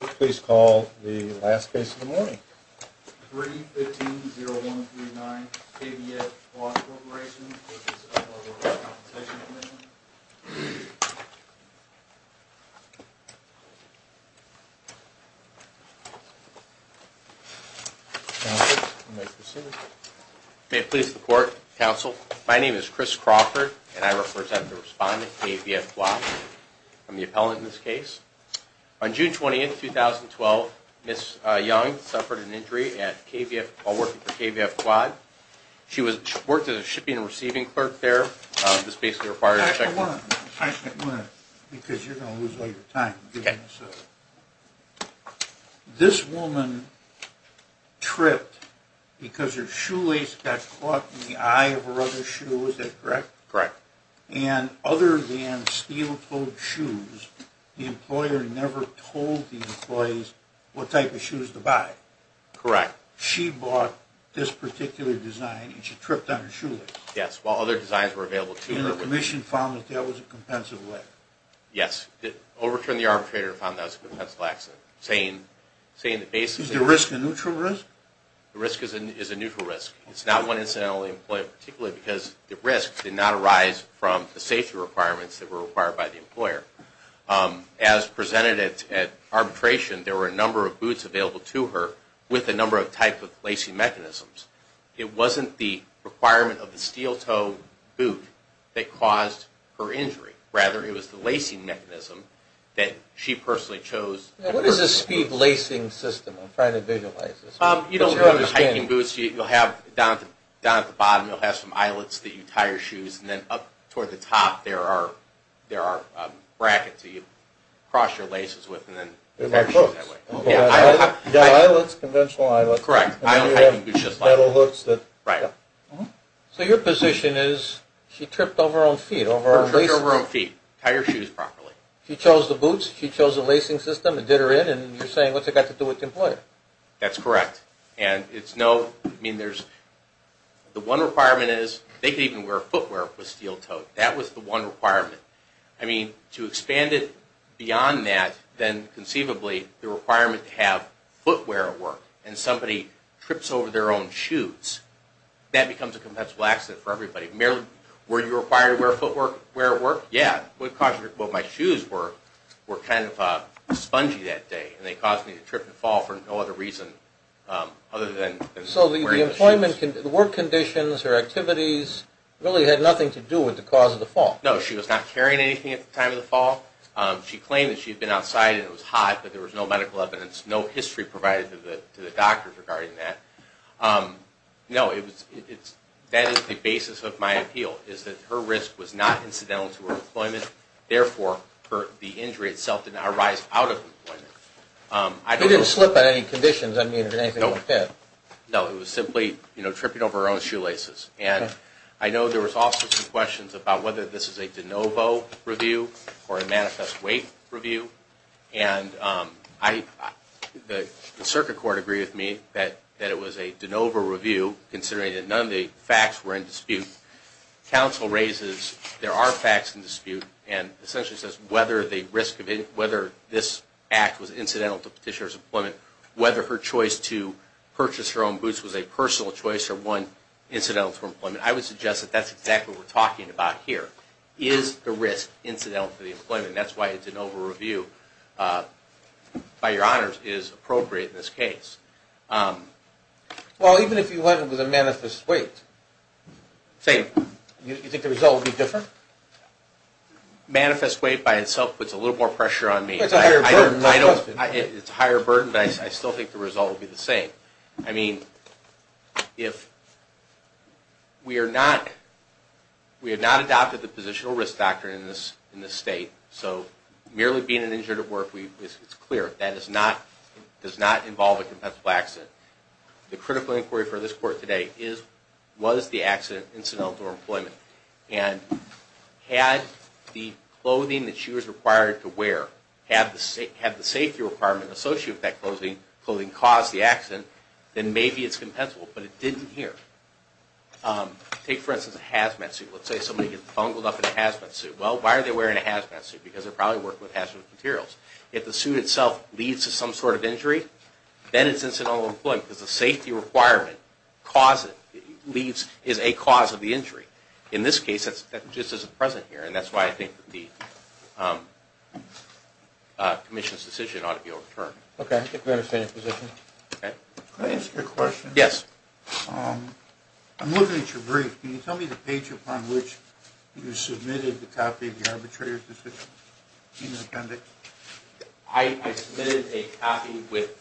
Please call the last case of the morning. 3-15-0139 KVF Quad Corporation v. Workers' Compensation Com'n May it please the Court, Counsel, my name is Chris Crawford and I represent the respondent KVF Quad. I'm the appellant in this case. On June 20th, 2012, Ms. Young suffered an injury while working for KVF Quad. She worked as a shipping and receiving clerk there. This basically requires a check... I actually want to... because you're going to lose a lot of your time. Okay. This woman tripped because her shoelace got caught in the eye of her other shoe, is that correct? Correct. And other than steel-toed shoes, the employer never told the employees what type of shoes to buy? Correct. She bought this particular design and she tripped on her shoelace? Yes, while other designs were available to her. And the Commission found that that was a compensable accident? Yes, it overturned the arbitrator and found that was a compensable accident, saying that basically... Is the risk a neutral risk? The risk is a neutral risk. It's not one incidentally employed, particularly because the risk did not arise from the safety requirements that were required by the employer. As presented at arbitration, there were a number of boots available to her with a number of types of lacing mechanisms. It wasn't the requirement of the steel-toed boot that caused her injury. Rather, it was the lacing mechanism that she personally chose... What is a speed lacing system? I'm trying to visualize this. You don't have the hiking boots. You'll have down at the bottom, you'll have some eyelets that you tie your shoes, and then up toward the top, there are brackets that you cross your laces with and then... They're like hooks. Yeah, eyelets, conventional eyelets. Correct. And then you have metal hooks that... Right. So your position is, she tripped over her own feet? She tripped over her own feet. Tied her shoes properly. She chose the boots. She chose the lacing system and did her in. And you're saying, what's it got to do with the employer? That's correct. And it's no... I mean, there's... The one requirement is, they could even wear footwear with steel-toed. That was the one requirement. I mean, to expand it beyond that, then conceivably, the requirement to have footwear at work, and somebody trips over their own shoes, that becomes a compensable accident for everybody. Were you required to wear footwear at work? Yeah. Because my shoes were kind of spongy that day, and they caused me to trip and fall for no other reason other than wearing the shoes. So the work conditions or activities really had nothing to do with the cause of the fall? No. She was not carrying anything at the time of the fall. She claimed that she had been outside and it was hot, but there was no medical evidence, no history provided to the doctors regarding that. No. That is the basis of my appeal, is that her risk was not incidental to her employment. Therefore, the injury itself did not arise out of employment. She didn't slip on any conditions, I mean, or anything like that? No. No, it was simply, you know, tripping over her own shoelaces. And I know there was also some questions about whether this is a de novo review or a manifest wait review. And the circuit court agreed with me that it was a de novo review, considering that none of the facts were in dispute. Counsel raises there are facts in dispute and essentially says whether this act was incidental to Petitioner's employment, whether her choice to purchase her own boots was a personal choice or one incidental to her employment. I would suggest that that's exactly what we're talking about here. Is the risk incidental to the employment? And that's why it's a de novo review, by your honors, is appropriate in this case. Well, even if you went with a manifest wait? Same. You think the result would be different? Manifest wait by itself puts a little more pressure on me. It's a higher burden. It's a higher burden, but I still think the result would be the same. I mean, we have not adopted the positional risk doctrine in this state, so merely being an injured at work, it's clear that does not involve a compensative accident. The critical inquiry for this court today was the accident incidental to her employment. And had the clothing that she was required to wear had the safety requirement associated with that clothing, caused the accident, then maybe it's compensable. But it didn't here. Take, for instance, a hazmat suit. Let's say somebody gets bungled up in a hazmat suit. Well, why are they wearing a hazmat suit? Because they're probably working with hazmat materials. If the suit itself leads to some sort of injury, then it's incidental to employment, because the safety requirement is a cause of the injury. In this case, that just isn't present here, and that's why I think the commission's decision ought to be overturned. Okay, I think we understand your position. Can I ask you a question? Yes. I'm looking at your brief. Can you tell me the page upon which you submitted the copy of the arbitrator's decision in the appendix? I submitted a copy with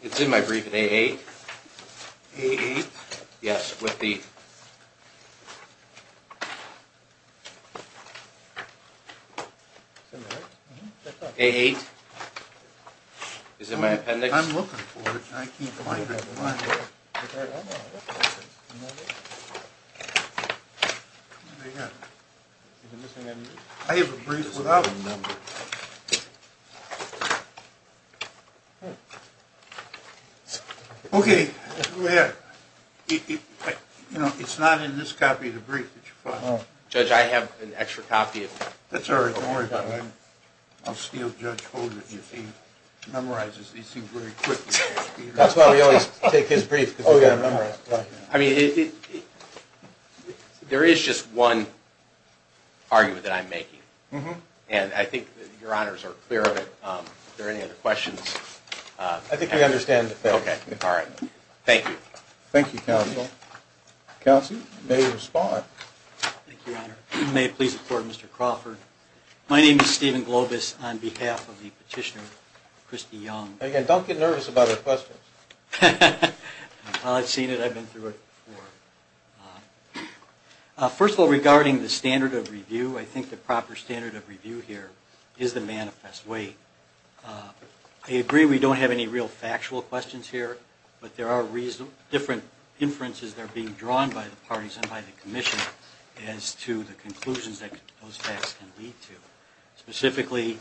– it's in my brief, in AA. A8? Yes, with the – A8. Is it in my appendix? I'm looking for it, and I can't find it. I have a brief without a number. Okay, go ahead. You know, it's not in this copy of the brief that you find it. Judge, I have an extra copy of it. That's all right. Don't worry about it. I'll steal Judge Holder's. He memorizes these things very quickly. That's why we always take his brief, because we've got to remember it. I mean, there is just one argument that I'm making, and I think your honors are clear of it. Are there any other questions? I think we understand it. Okay. All right. Thank you. Thank you, counsel. Counsel, you may respond. Thank you, your honor. May it please the court, Mr. Crawford. My name is Stephen Globus on behalf of the petitioner, Christy Young. Again, don't get nervous about our questions. I've seen it. I've been through it before. First of all, regarding the standard of review, I think the proper standard of review here is the manifest way. I agree we don't have any real factual questions here, but there are different inferences that are being drawn by the parties and by the commission as to the conclusions that those facts can lead to. Specifically,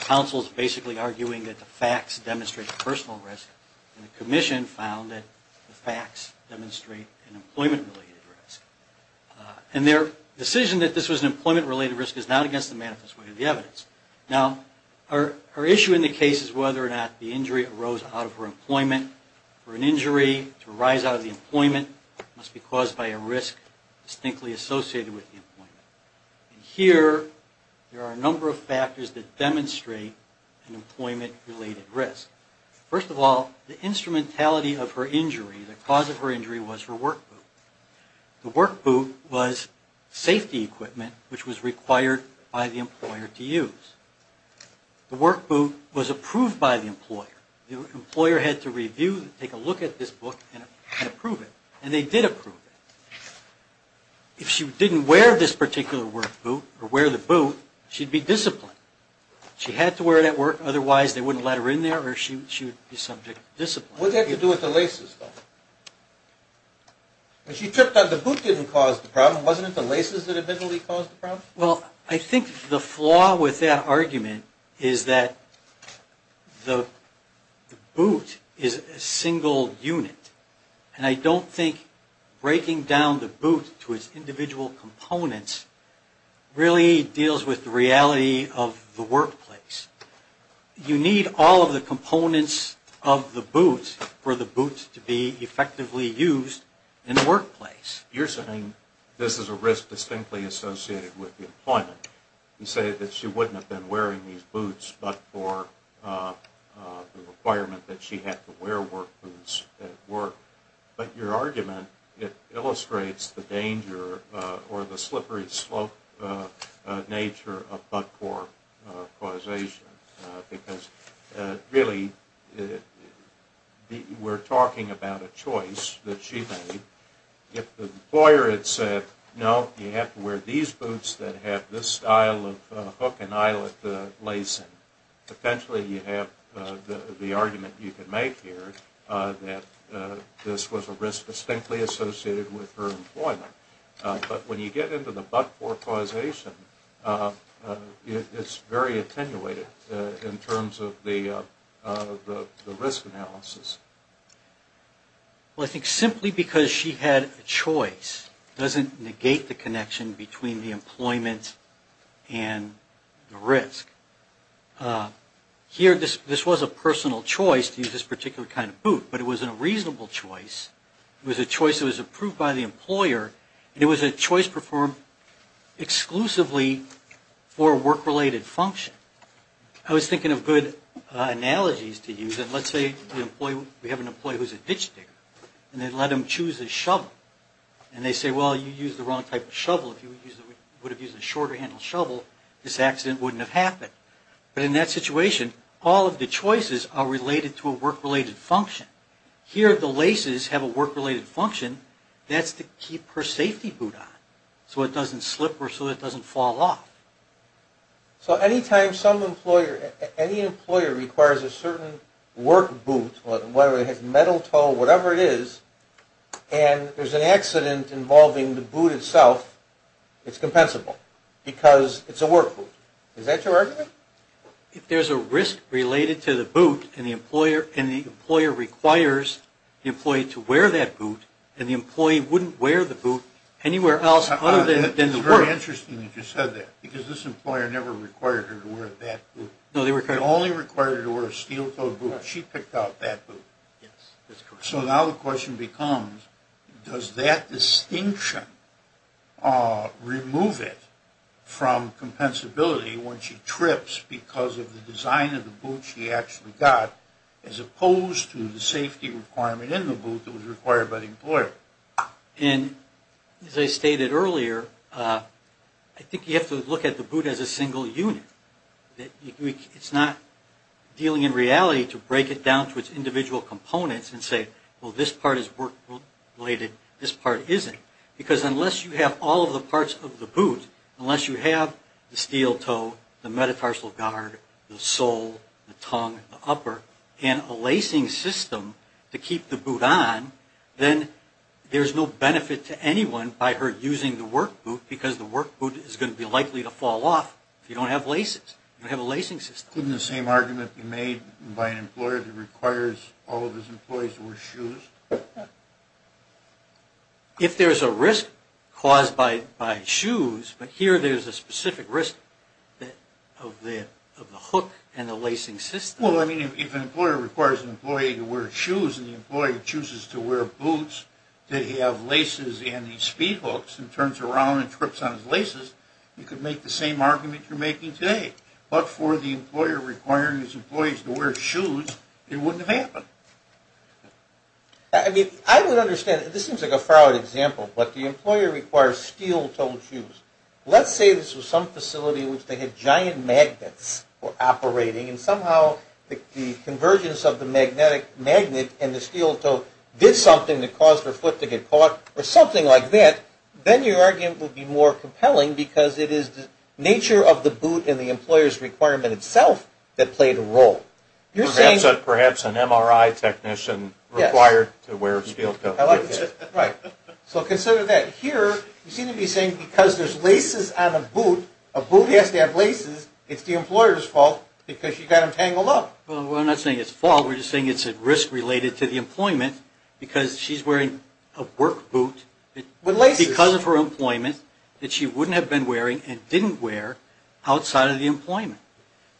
counsel is basically arguing that the facts demonstrate personal risk, and the commission found that the facts demonstrate an employment-related risk. And their decision that this was an employment-related risk is not against the manifest way of the evidence. Now, our issue in the case is whether or not the injury arose out of her employment. For an injury to arise out of the employment, it must be caused by a risk distinctly associated with the employment. Here, there are a number of factors that demonstrate an employment-related risk. First of all, the instrumentality of her injury, the cause of her injury, was her work boot. The work boot was safety equipment which was required by the employer to use. The work boot was approved by the employer. The employer had to review and take a look at this book and approve it, and they did approve it. If she didn't wear this particular work boot or wear the boot, she'd be disciplined. She had to wear that work, otherwise they wouldn't let her in there or she would be subject to discipline. What did that have to do with the laces, though? When she tripped up, the boot didn't cause the problem. Wasn't it the laces that admittedly caused the problem? Well, I think the flaw with that argument is that the boot is a single unit, and I don't think breaking down the boot to its individual components really deals with the reality of the workplace. You need all of the components of the boot for the boot to be effectively used in the workplace. You're saying this is a risk distinctly associated with the employment. You say that she wouldn't have been wearing these boots, but for the requirement that she had to wear work boots at work. But your argument illustrates the danger or the slippery slope nature of but-for causation, because really we're talking about a choice that she made. If the employer had said, no, you have to wear these boots that have this style of hook and eyelet lacing, potentially you have the argument you can make here that this was a risk distinctly associated with her employment. But when you get into the but-for causation, it's very attenuated in terms of the risk analysis. Well, I think simply because she had a choice doesn't negate the connection between the employment and the risk. Here, this was a personal choice to use this particular kind of boot, but it wasn't a reasonable choice. It was a choice that was approved by the employer, and it was a choice performed exclusively for a work-related function. I was thinking of good analogies to use. Let's say we have an employee who's a ditch digger, and they let him choose a shovel. And they say, well, you used the wrong type of shovel. If you would have used a shorter handle shovel, this accident wouldn't have happened. But in that situation, all of the choices are related to a work-related function. Here, the laces have a work-related function. That's to keep her safety boot on so it doesn't slip or so it doesn't fall off. So any time any employer requires a certain work boot, whether it has metal toe, whatever it is, and there's an accident involving the boot itself, it's compensable because it's a work boot. Is that your argument? If there's a risk related to the boot, and the employer requires the employee to wear that boot, and the employee wouldn't wear the boot anywhere else other than the work. It's very interesting that you said that, because this employer never required her to wear that boot. No, they were correct. They only required her to wear a steel-toed boot. She picked out that boot. Yes, that's correct. So now the question becomes, does that distinction remove it from compensability when she trips because of the design of the boot she actually got, as opposed to the safety requirement in the boot that was required by the employer? And as I stated earlier, I think you have to look at the boot as a single unit. It's not dealing in reality to break it down to its individual components and say, well, this part is work-related, this part isn't. Because unless you have all of the parts of the boot, unless you have the steel toe, the metatarsal guard, the sole, the tongue, the upper, and a lacing system to keep the boot on, then there's no benefit to anyone by her using the work boot, because the work boot is going to be likely to fall off if you don't have laces. You don't have a lacing system. Couldn't the same argument be made by an employer that requires all of his employees to wear shoes? If there's a risk caused by shoes, but here there's a specific risk of the hook and the lacing system. Well, I mean, if an employer requires an employee to wear shoes and the employee chooses to wear boots, that he have laces and he speed hooks and turns around and trips on his laces, you could make the same argument you're making today. But for the employer requiring his employees to wear shoes, it wouldn't have happened. I mean, I would understand. This seems like a fraud example, but the employer requires steel-toed shoes. Let's say this was some facility in which they had giant magnets operating, and somehow the convergence of the magnet and the steel toe did something to cause their foot to get caught or something like that, then your argument would be more compelling, because it is the nature of the boot and the employer's requirement itself that played a role. Perhaps an MRI technician required to wear steel-toed shoes. Right. So consider that. Here, you seem to be saying because there's laces on a boot, a boot has to have laces. It's the employer's fault because she got them tangled up. Well, we're not saying it's fault. We're just saying it's a risk related to the employment because she's wearing a work boot because of her employment that she wouldn't have been wearing and didn't wear outside of the employment.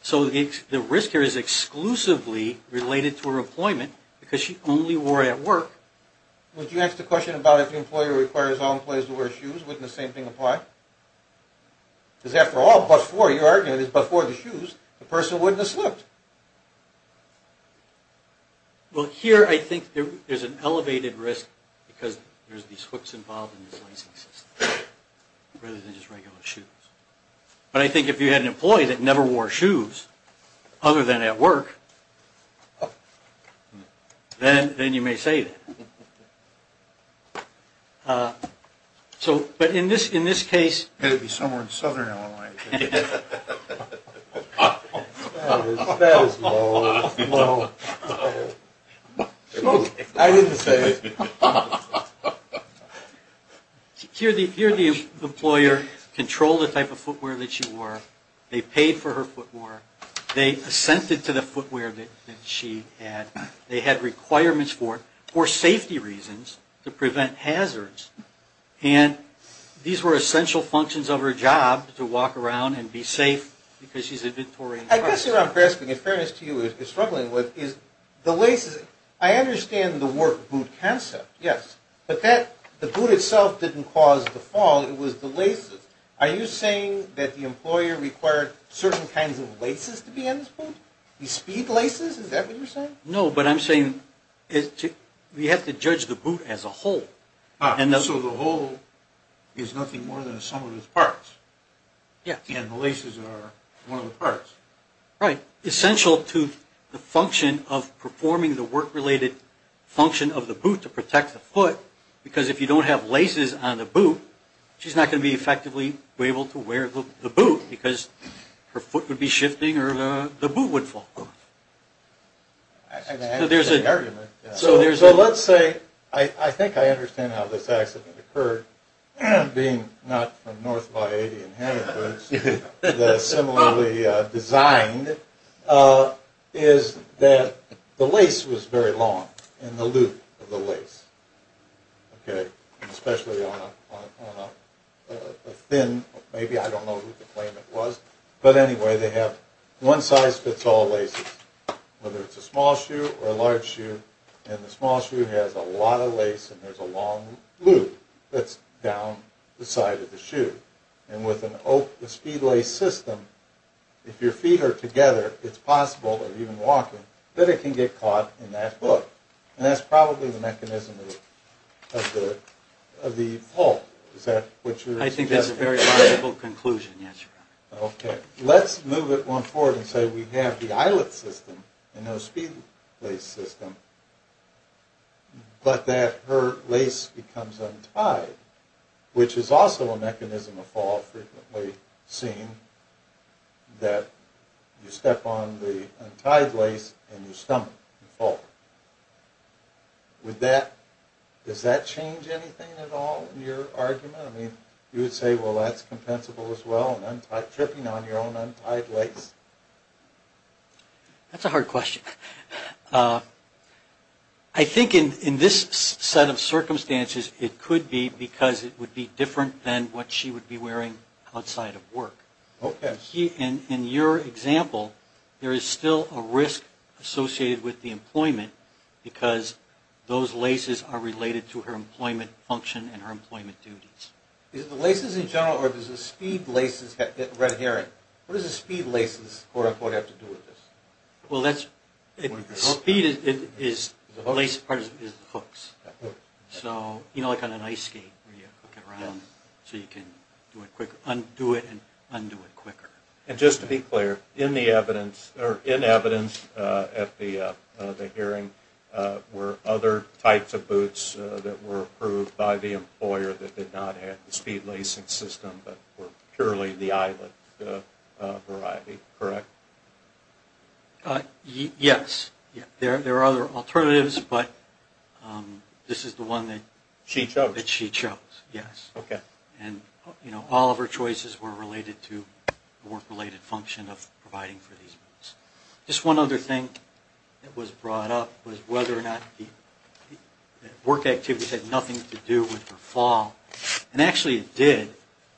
So the risk here is exclusively related to her employment because she only wore it at work. Would you ask the question about if the employer requires all employees to wear shoes, wouldn't the same thing apply? Because after all, your argument is before the shoes, the person wouldn't have slipped. Well, here I think there's an elevated risk because there's these hooks involved in this lacing system rather than just regular shoes. But I think if you had an employee that never wore shoes other than at work, then you may say that. But in this case… That would be somewhere in southern Illinois. That is low, low. I didn't say it. Here the employer controlled the type of footwear that she wore. They paid for her footwear. They assented to the footwear that she had. They had requirements for it for safety reasons to prevent hazards. And these were essential functions of her job to walk around and be safe because she's a Victorian. I guess what I'm grasping, in fairness to you, is struggling with is the laces. I understand the work boot concept, yes. But the boot itself didn't cause the fall. It was the laces. Are you saying that the employer required certain kinds of laces to be in this boot? These speed laces? Is that what you're saying? No, but I'm saying we have to judge the boot as a whole. So the whole is nothing more than a sum of its parts. Yes. And the laces are one of the parts. Right. Essential to the function of performing the work-related function of the boot to protect the foot because if you don't have laces on the boot, she's not going to be effectively able to wear the boot because her foot would be shifting or the boot would fall. So there's an argument. So let's say, I think I understand how this accident occurred, being not from North By 80 in Hattie Woods, but similarly designed, is that the lace was very long in the loop of the lace. Okay. Especially on a thin, maybe I don't know who to claim it was, but anyway, they have one size fits all laces, whether it's a small shoe or a large shoe, and the small shoe has a lot of lace and there's a long loop that's down the side of the shoe. And with a speed lace system, if your feet are together, it's possible, or even walking, that it can get caught in that loop, and that's probably the mechanism of the fault. Is that what you're suggesting? I think that's a very logical conclusion, yes, Your Honor. Okay. Let's move it one forward and say we have the eyelet system and no speed lace system, but that her lace becomes untied, which is also a mechanism of fault frequently seen, that you step on the untied lace and you stumble, you fall. Does that change anything at all in your argument? I mean, you would say, well, that's compensable as well, tripping on your own untied lace. That's a hard question. I think in this set of circumstances, it could be because it would be different than what she would be wearing outside of work. Okay. In your example, there is still a risk associated with the employment, because those laces are related to her employment function and her employment duties. Is it the laces in general, or does the speed laces, red herring, what does the speed laces, quote-unquote, have to do with this? Well, that's, speed is, lace part is the hooks. So, you know, like on an ice skate where you hook it around so you can undo it and undo it quicker. And just to be clear, in the evidence, or in evidence at the hearing, were other types of boots that were approved by the employer that did not have the speed lacing system, but were purely the eyelet variety, correct? Yes. There are other alternatives, but this is the one that she chose, yes. Okay. And, you know, all of her choices were related to the work-related function of providing for these boots. Just one other thing that was brought up was whether or not the work activities had nothing to do with her fall. And actually, it did.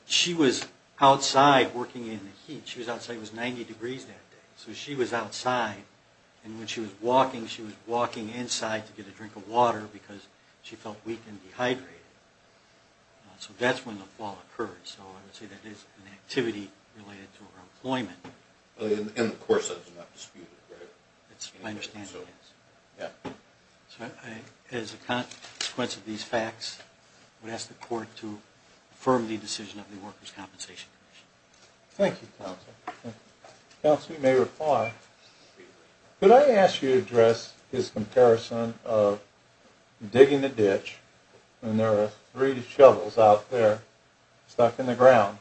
She was outside working in the heat. She was outside. It was 90 degrees that day. So she was outside, and when she was walking, she was walking inside to get a drink of water because she felt weak and dehydrated. So that's when the fall occurred. So I would say that is an activity related to her employment. And, of course, that is not disputed, right? That's my understanding, yes. Yeah. So as a consequence of these facts, I would ask the court to affirm the decision of the Workers' Compensation Commission. Thank you, counsel. Counsel, you may reply. Could I ask you to address his comparison of digging a ditch, and there are three shovels out there stuck in the ground,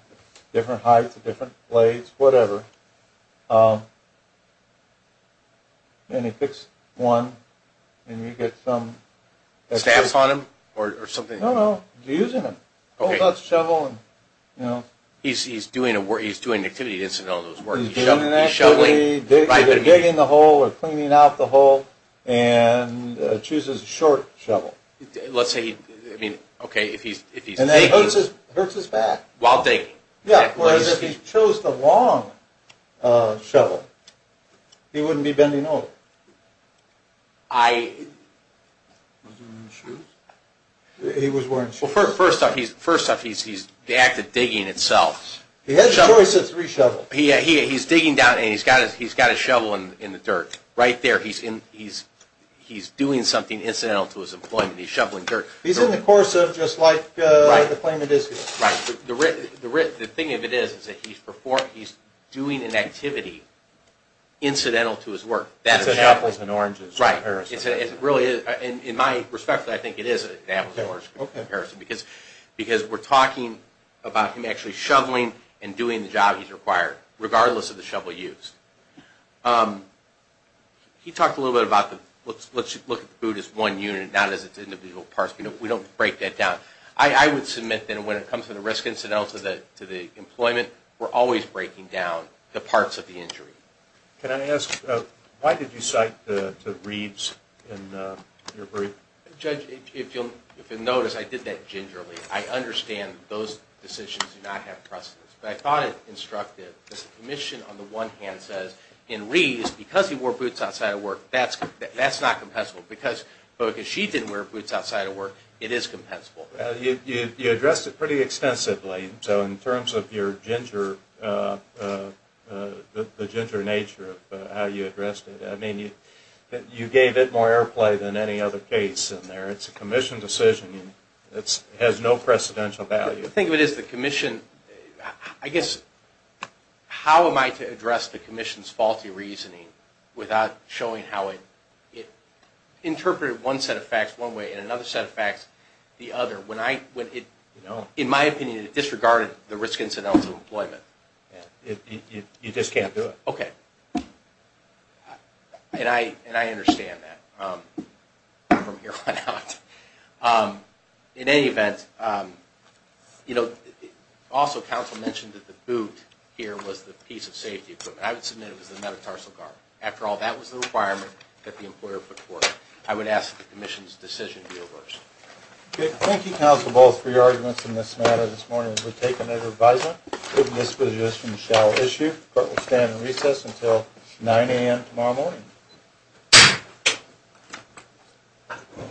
different heights, different blades, whatever, and he picks one, and you get some… Stabs on him or something? No, no, he's using them. Okay. He's doing an activity instead of all those works. He's shoveling? He's digging the hole or cleaning out the hole and chooses a short shovel. Let's say, I mean, okay, if he's digging… And that hurts his back. While digging. Yeah, of course, if he chose the long shovel, he wouldn't be bending over. I… Was he wearing shoes? He was wearing shoes. Well, first off, he's the act of digging itself. He has a choice of three shovels. He's digging down, and he's got his shovel in the dirt. Right there, he's doing something incidental to his employment. He's shoveling dirt. He's in the course of just like the claimant is here. Right. The thing of it is that he's doing an activity incidental to his work. That's an apples and oranges comparison. Right. In my respect, I think it is an apples and oranges comparison because we're talking about him actually shoveling and doing the job he's required, regardless of the shovel used. He talked a little bit about let's look at the boot as one unit, not as its individual parts. We don't break that down. I would submit that when it comes to the risk incidental to the employment, we're always breaking down the parts of the injury. Can I ask why did you cite the reeds in your brief? Judge, if you'll notice, I did that gingerly. I understand those decisions do not have precedence. But I thought it instructive. The commission on the one hand says in reeds, because he wore boots outside of work, that's not compensable. But because she didn't wear boots outside of work, it is compensable. You addressed it pretty extensively. So in terms of your ginger, the ginger nature of how you addressed it, I mean, you gave it more airplay than any other case in there. It's a commission decision. It has no precedential value. The thing of it is the commission, I guess, how am I to address the commission's faulty reasoning without showing how it interpreted one set of facts one way and another set of facts the other? In my opinion, it disregarded the risk incidents of employment. You just can't do it. Okay. And I understand that from here on out. In any event, also counsel mentioned that the boot here was the piece of safety equipment. I would submit it was the metatarsal guard. After all, that was the requirement that the employer put forth. I would ask that the commission's decision be reversed. Thank you, counsel, both for your arguments in this matter this morning. We'll take another advisement. This position shall issue. Court will stand in recess until 9 a.m. tomorrow morning.